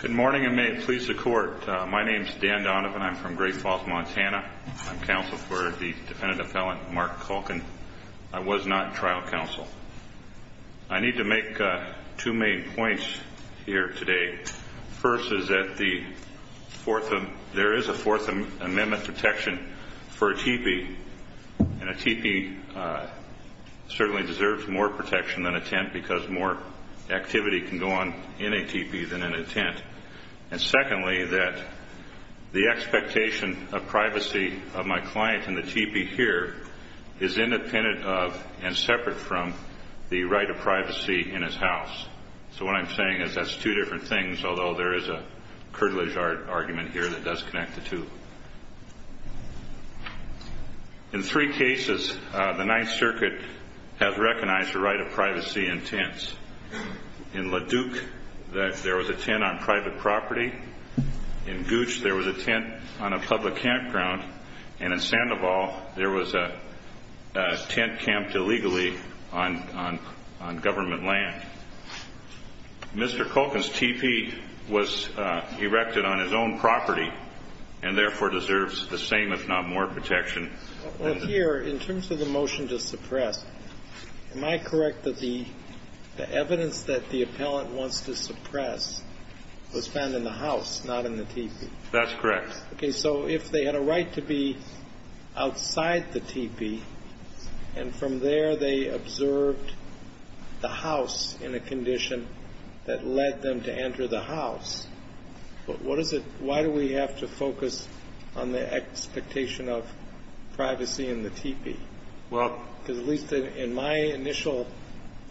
Good morning and may it please the court. My name is Dan Donovan. I'm from Great Falls, Montana. I'm counsel for the defendant-appellant Mark Culkin. I was not trial counsel. I need to make two main points here today. First is that there is a Fourth Amendment protection for a teepee. And a teepee certainly deserves more protection than a tent because more activity can go on in a teepee than in a tent. And secondly, that the expectation of privacy of my client in the teepee here is independent of and separate from the right of privacy in his house. So what I'm saying is that's two different things, although there is a curtilage argument here that does connect the two. In three cases, the Ninth Circuit has recognized the right of privacy in tents. In LaDuke, there was a tent on private property. In Gooch, there was a tent on a public campground. And in Sandoval, there was a tent camped illegally on government land. Mr. Culkin's teepee was erected on his own property and therefore deserves the same, if not more, protection. Well, here, in terms of the motion to suppress, am I correct that the evidence that the appellant wants to suppress was found in the house, not in the teepee? That's correct. Okay. So if they had a right to be outside the teepee, and from there they observed the house in a condition that led them to enter the house, why do we have to focus on the expectation of privacy in the teepee? Because at least in my initial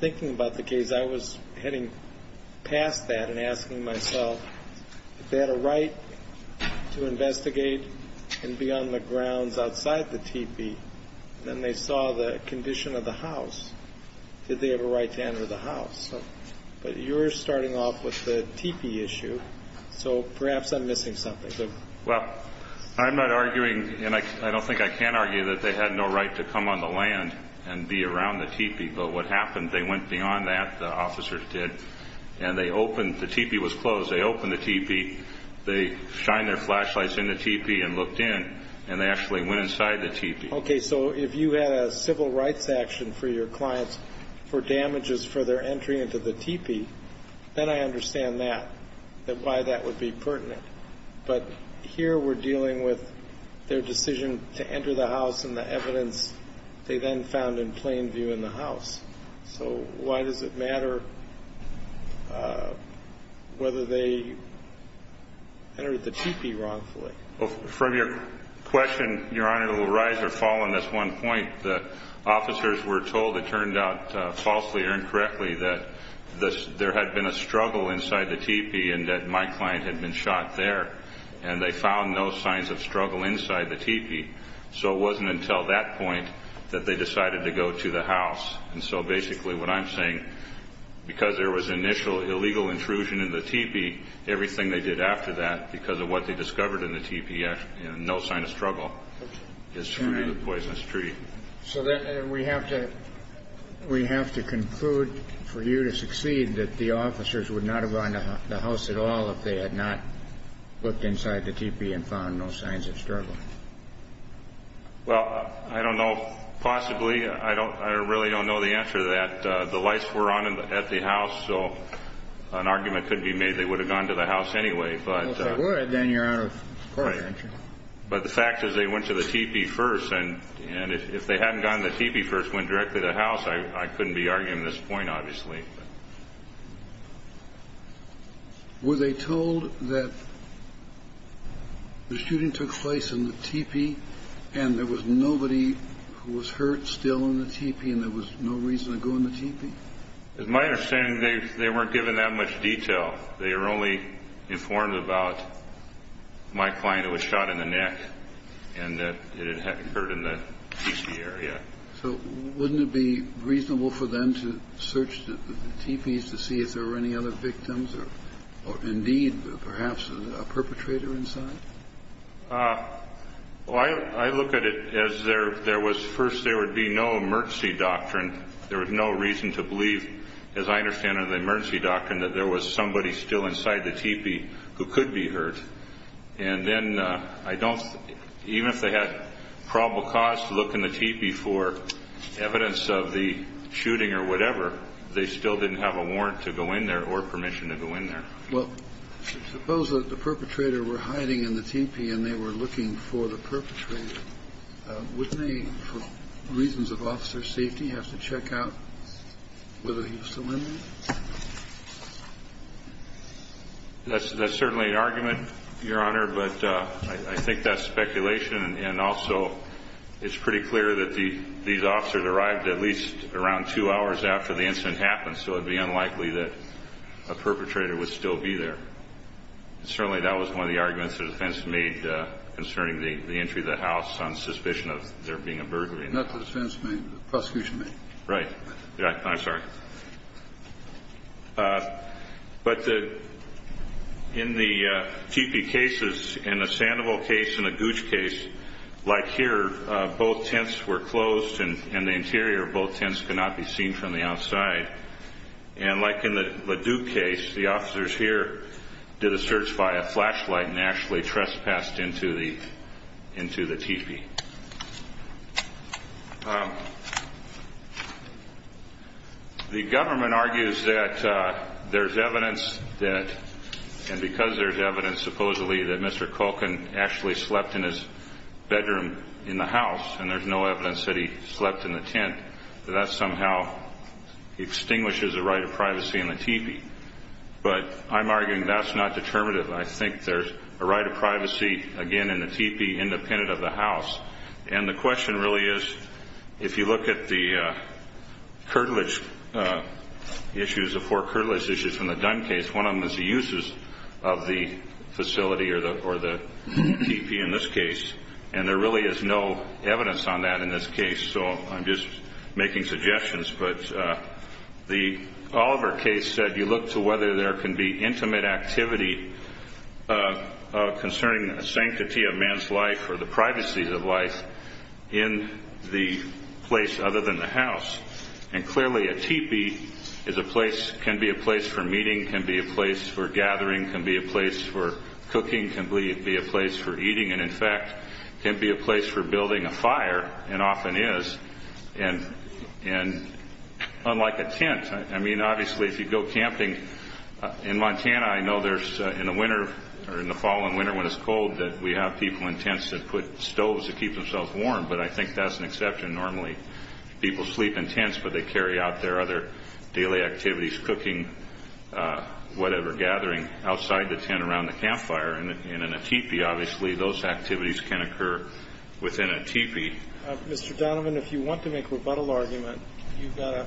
thinking about the case, I was heading past that and asking myself, if they had a right to investigate and be on the grounds outside the teepee, and then they saw the condition of the house, did they have a right to enter the house? But you're starting off with the teepee issue, so perhaps I'm missing something. Well, I'm not arguing, and I don't think I can argue that they had no right to come on the land and be around the teepee. But what happened, they went beyond that, the officers did, and they opened, the teepee was closed, they opened the teepee, they shined their flashlights in the teepee and looked in, and they actually went inside the teepee. Okay, so if you had a civil rights action for your clients for damages for their entry into the teepee, then I understand that, why that would be pertinent. But here we're dealing with their decision to enter the house and the evidence they then found in plain view in the house. So why does it matter whether they entered the teepee wrongfully? From your question, Your Honor, it will rise or fall on this one point. The officers were told it turned out falsely or incorrectly that there had been a struggle inside the teepee and that my client had been shot there, and they found no signs of struggle inside the teepee. So it wasn't until that point that they decided to go to the house. And so basically what I'm saying, because there was initial illegal intrusion in the teepee, everything they did after that, because of what they discovered in the teepee, no sign of struggle is true of the poisonous tree. So we have to conclude for you to succeed that the officers would not have gone to the house at all if they had not looked inside the teepee and found no signs of struggle. Well, I don't know. Possibly. I really don't know the answer to that. The lights were on at the house, so an argument could be made they would have gone to the house anyway. Well, if they would, then you're out of court, aren't you? Right. But the fact is they went to the teepee first, and if they hadn't gone to the teepee first, went directly to the house, I couldn't be arguing this point, obviously. Were they told that the shooting took place in the teepee and there was nobody who was hurt still in the teepee and there was no reason to go in the teepee? As my understanding, they weren't given that much detail. They were only informed about my client who was shot in the neck and that it had occurred in the teepee area. So wouldn't it be reasonable for them to search the teepees to see if there were any other victims or indeed perhaps a perpetrator inside? Well, I look at it as there was first there would be no emergency doctrine. There was no reason to believe, as I understand it, in the emergency doctrine that there was somebody still inside the teepee who could be hurt. And then I don't even if they had probable cause to look in the teepee for evidence of the shooting or whatever, they still didn't have a warrant to go in there or permission to go in there. Well, suppose that the perpetrator were hiding in the teepee and they were looking for the perpetrator. Wouldn't they, for reasons of officer safety, have to check out whether he was still in there? That's certainly an argument, Your Honor, but I think that's speculation. And also it's pretty clear that these officers arrived at least around two hours after the incident happened, so it would be unlikely that a perpetrator would still be there. Certainly that was one of the arguments the defense made concerning the entry of the house on suspicion of there being a burglary. Not the defense made, the prosecution made. Right. I'm sorry. But in the teepee cases, in the Sandoval case and the Gooch case, like here, both tents were closed and the interior of both tents could not be seen from the outside. And like in the LeDuc case, the officers here did a search by a flashlight and actually trespassed into the teepee. The government argues that there's evidence that, and because there's evidence supposedly that Mr. Culkin actually slept in his bedroom in the house and there's no evidence that he slept in the tent, that that somehow extinguishes a right of privacy in the teepee. But I'm arguing that's not determinative. I think there's a right of privacy, again, in the teepee independent of the house. And the question really is, if you look at the curtilage issues, the four curtilage issues from the Dunn case, one of them is the uses of the facility or the teepee in this case, and there really is no evidence on that in this case. So I'm just making suggestions. But the Oliver case said you look to whether there can be intimate activity concerning the sanctity of man's life or the privacy of life in the place other than the house. And clearly, a teepee can be a place for meeting, can be a place for gathering, can be a place for cooking, can be a place for eating, and, in fact, can be a place for building a fire, and often is, and unlike a tent. I mean, obviously, if you go camping in Montana, I know there's in the winter or in the fall and winter when it's cold that we have people in tents that put stoves to keep themselves warm, but I think that's an exception. Normally people sleep in tents, but they carry out their other daily activities, cooking, whatever, gathering outside the tent around the campfire. And in a teepee, obviously, those activities can occur within a teepee. Mr. Donovan, if you want to make rebuttal argument, you've got to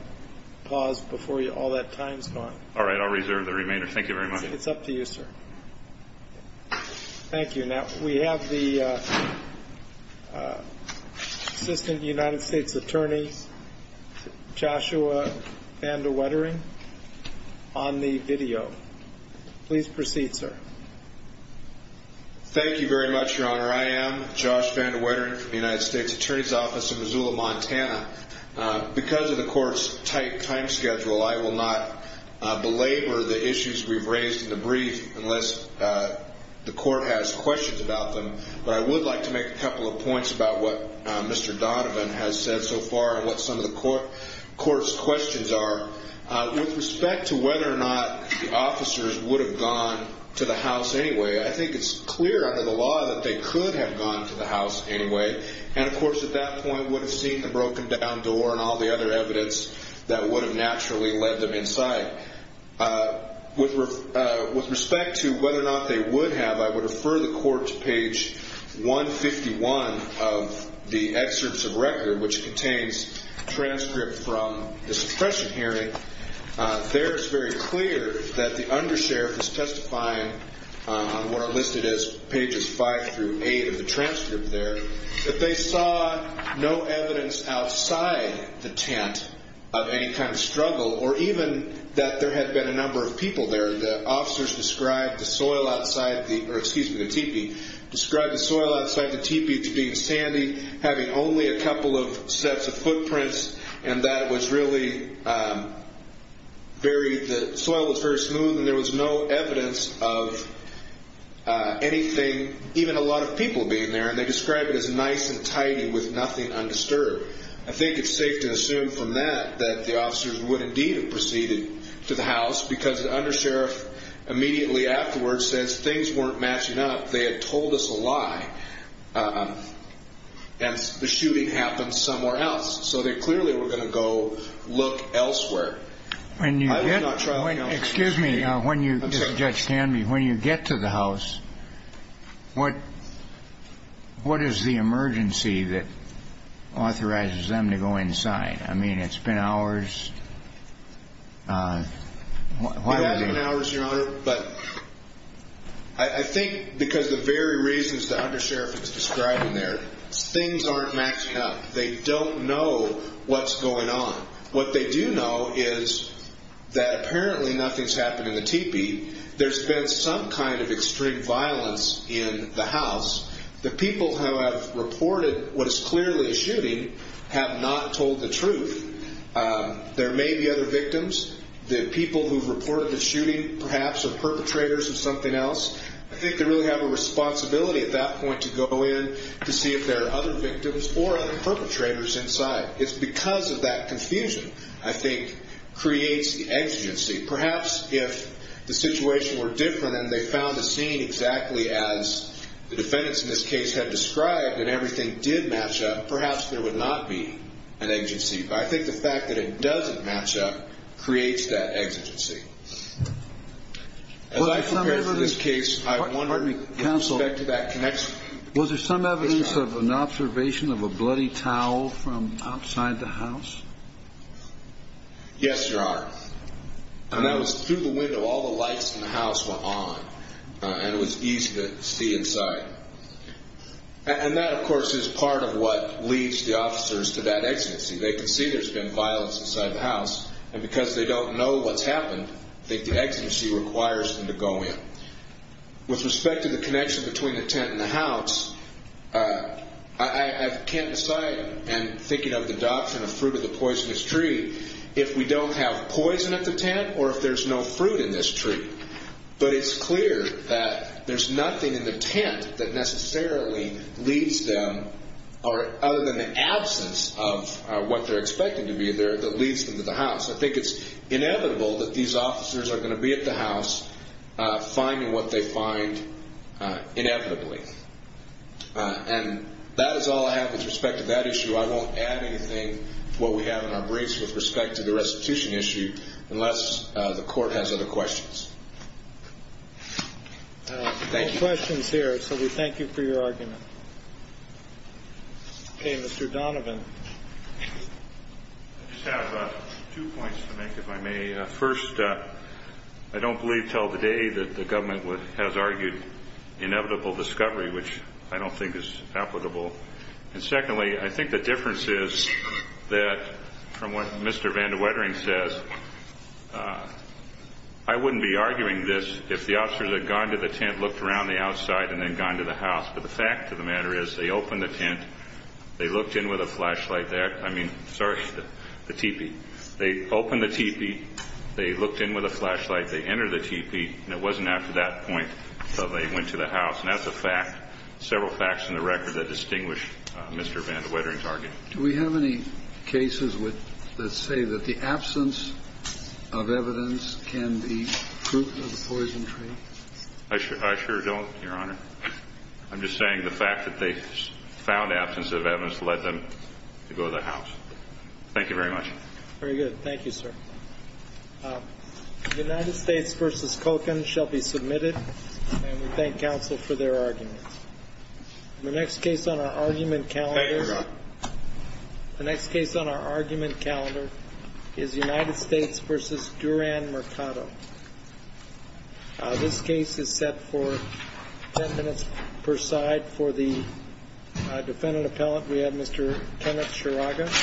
pause before all that time's gone. All right, I'll reserve the remainder. Thank you very much. It's up to you, sir. Thank you. Now, we have the Assistant United States Attorney, Joshua Vandewettering, on the video. Please proceed, sir. Thank you very much, Your Honor. I am Josh Vandewettering from the United States Attorney's Office in Missoula, Montana. Because of the court's tight time schedule, I will not belabor the issues we've raised in the brief unless the court has questions about them. But I would like to make a couple of points about what Mr. Donovan has said so far and what some of the court's questions are. With respect to whether or not the officers would have gone to the house anyway, I think it's clear under the law that they could have gone to the house anyway. And, of course, at that point would have seen the broken-down door and all the other evidence that would have naturally led them inside. With respect to whether or not they would have, I would refer the court to page 151 of the excerpts of record, which contains transcripts from the suppression hearing. There, it's very clear that the undersheriff is testifying on what are listed as pages 5 through 8 of the transcript there, that they saw no evidence outside the tent of any kind of struggle or even that there had been a number of people there. The officers described the soil outside the – or, excuse me, the teepee – described the soil outside the teepee to being sandy, having only a couple of sets of footprints, and that it was really very – the soil was very smooth and there was no evidence of anything, even a lot of people being there, and they described it as nice and tidy with nothing undisturbed. I think it's safe to assume from that that the officers would indeed have proceeded to the house because the undersheriff immediately afterwards says things weren't matching up, they had told us a lie, and the shooting happened somewhere else. So they clearly were going to go look elsewhere. I would not try to – Excuse me, when you – Judge Tanby – when you get to the house, what is the emergency that authorizes them to go inside? I mean, it's been hours. It has been hours, Your Honor, but I think because of the very reasons the undersheriff is describing there, things aren't matching up. They don't know what's going on. What they do know is that apparently nothing's happened in the teepee. There's been some kind of extreme violence in the house. The people who have reported what is clearly a shooting have not told the truth. There may be other victims. The people who have reported the shooting perhaps are perpetrators of something else. I think they really have a responsibility at that point to go in to see if there are other victims or other perpetrators inside. It's because of that confusion, I think, creates the exigency. Perhaps if the situation were different and they found the scene exactly as the defendants in this case had described and everything did match up, perhaps there would not be an exigency. But I think the fact that it doesn't match up creates that exigency. As I prepared for this case, I wondered with respect to that connection. Was there some evidence of an observation of a bloody towel from outside the house? Yes, there are. And that was through the window. All the lights in the house were on, and it was easy to see inside. And that, of course, is part of what leads the officers to that exigency. They can see there's been violence inside the house, and because they don't know what's happened, I think the exigency requires them to go in. With respect to the connection between the tent and the house, I can't decide, and thinking of the doctrine of fruit of the poisonous tree, if we don't have poison at the tent or if there's no fruit in this tree. But it's clear that there's nothing in the tent that necessarily leads them, other than the absence of what they're expecting to be there, that leads them to the house. I think it's inevitable that these officers are going to be at the house finding what they find inevitably. And that is all I have with respect to that issue. I won't add anything to what we have in our briefs with respect to the restitution issue unless the court has other questions. Thank you. No questions here, so we thank you for your argument. Okay, Mr. Donovan. I just have two points to make, if I may. First, I don't believe until today that the government has argued inevitable discovery, which I don't think is applicable. And secondly, I think the difference is that, from what Mr. Van de Wettering says, I wouldn't be arguing this if the officers had gone to the tent, looked around the outside, and then gone to the house. But the fact of the matter is they opened the tent. They looked in with a flashlight there. I mean, sorry, the teepee. They opened the teepee. They looked in with a flashlight. They entered the teepee, and it wasn't after that point that they went to the house. And that's a fact, several facts in the record that distinguish Mr. Van de Wettering's argument. Do we have any cases that say that the absence of evidence can be proof of the poison tree? I sure don't, Your Honor. I'm just saying the fact that they found absence of evidence led them to go to the house. Thank you very much. Very good. Thank you, sir. United States v. Kocan shall be submitted, and we thank counsel for their arguments. The next case on our argument calendar is United States v. Duran Mercado. This case is set for 10 minutes per side. For the defendant appellant, we have Mr. Kenneth Sharaga.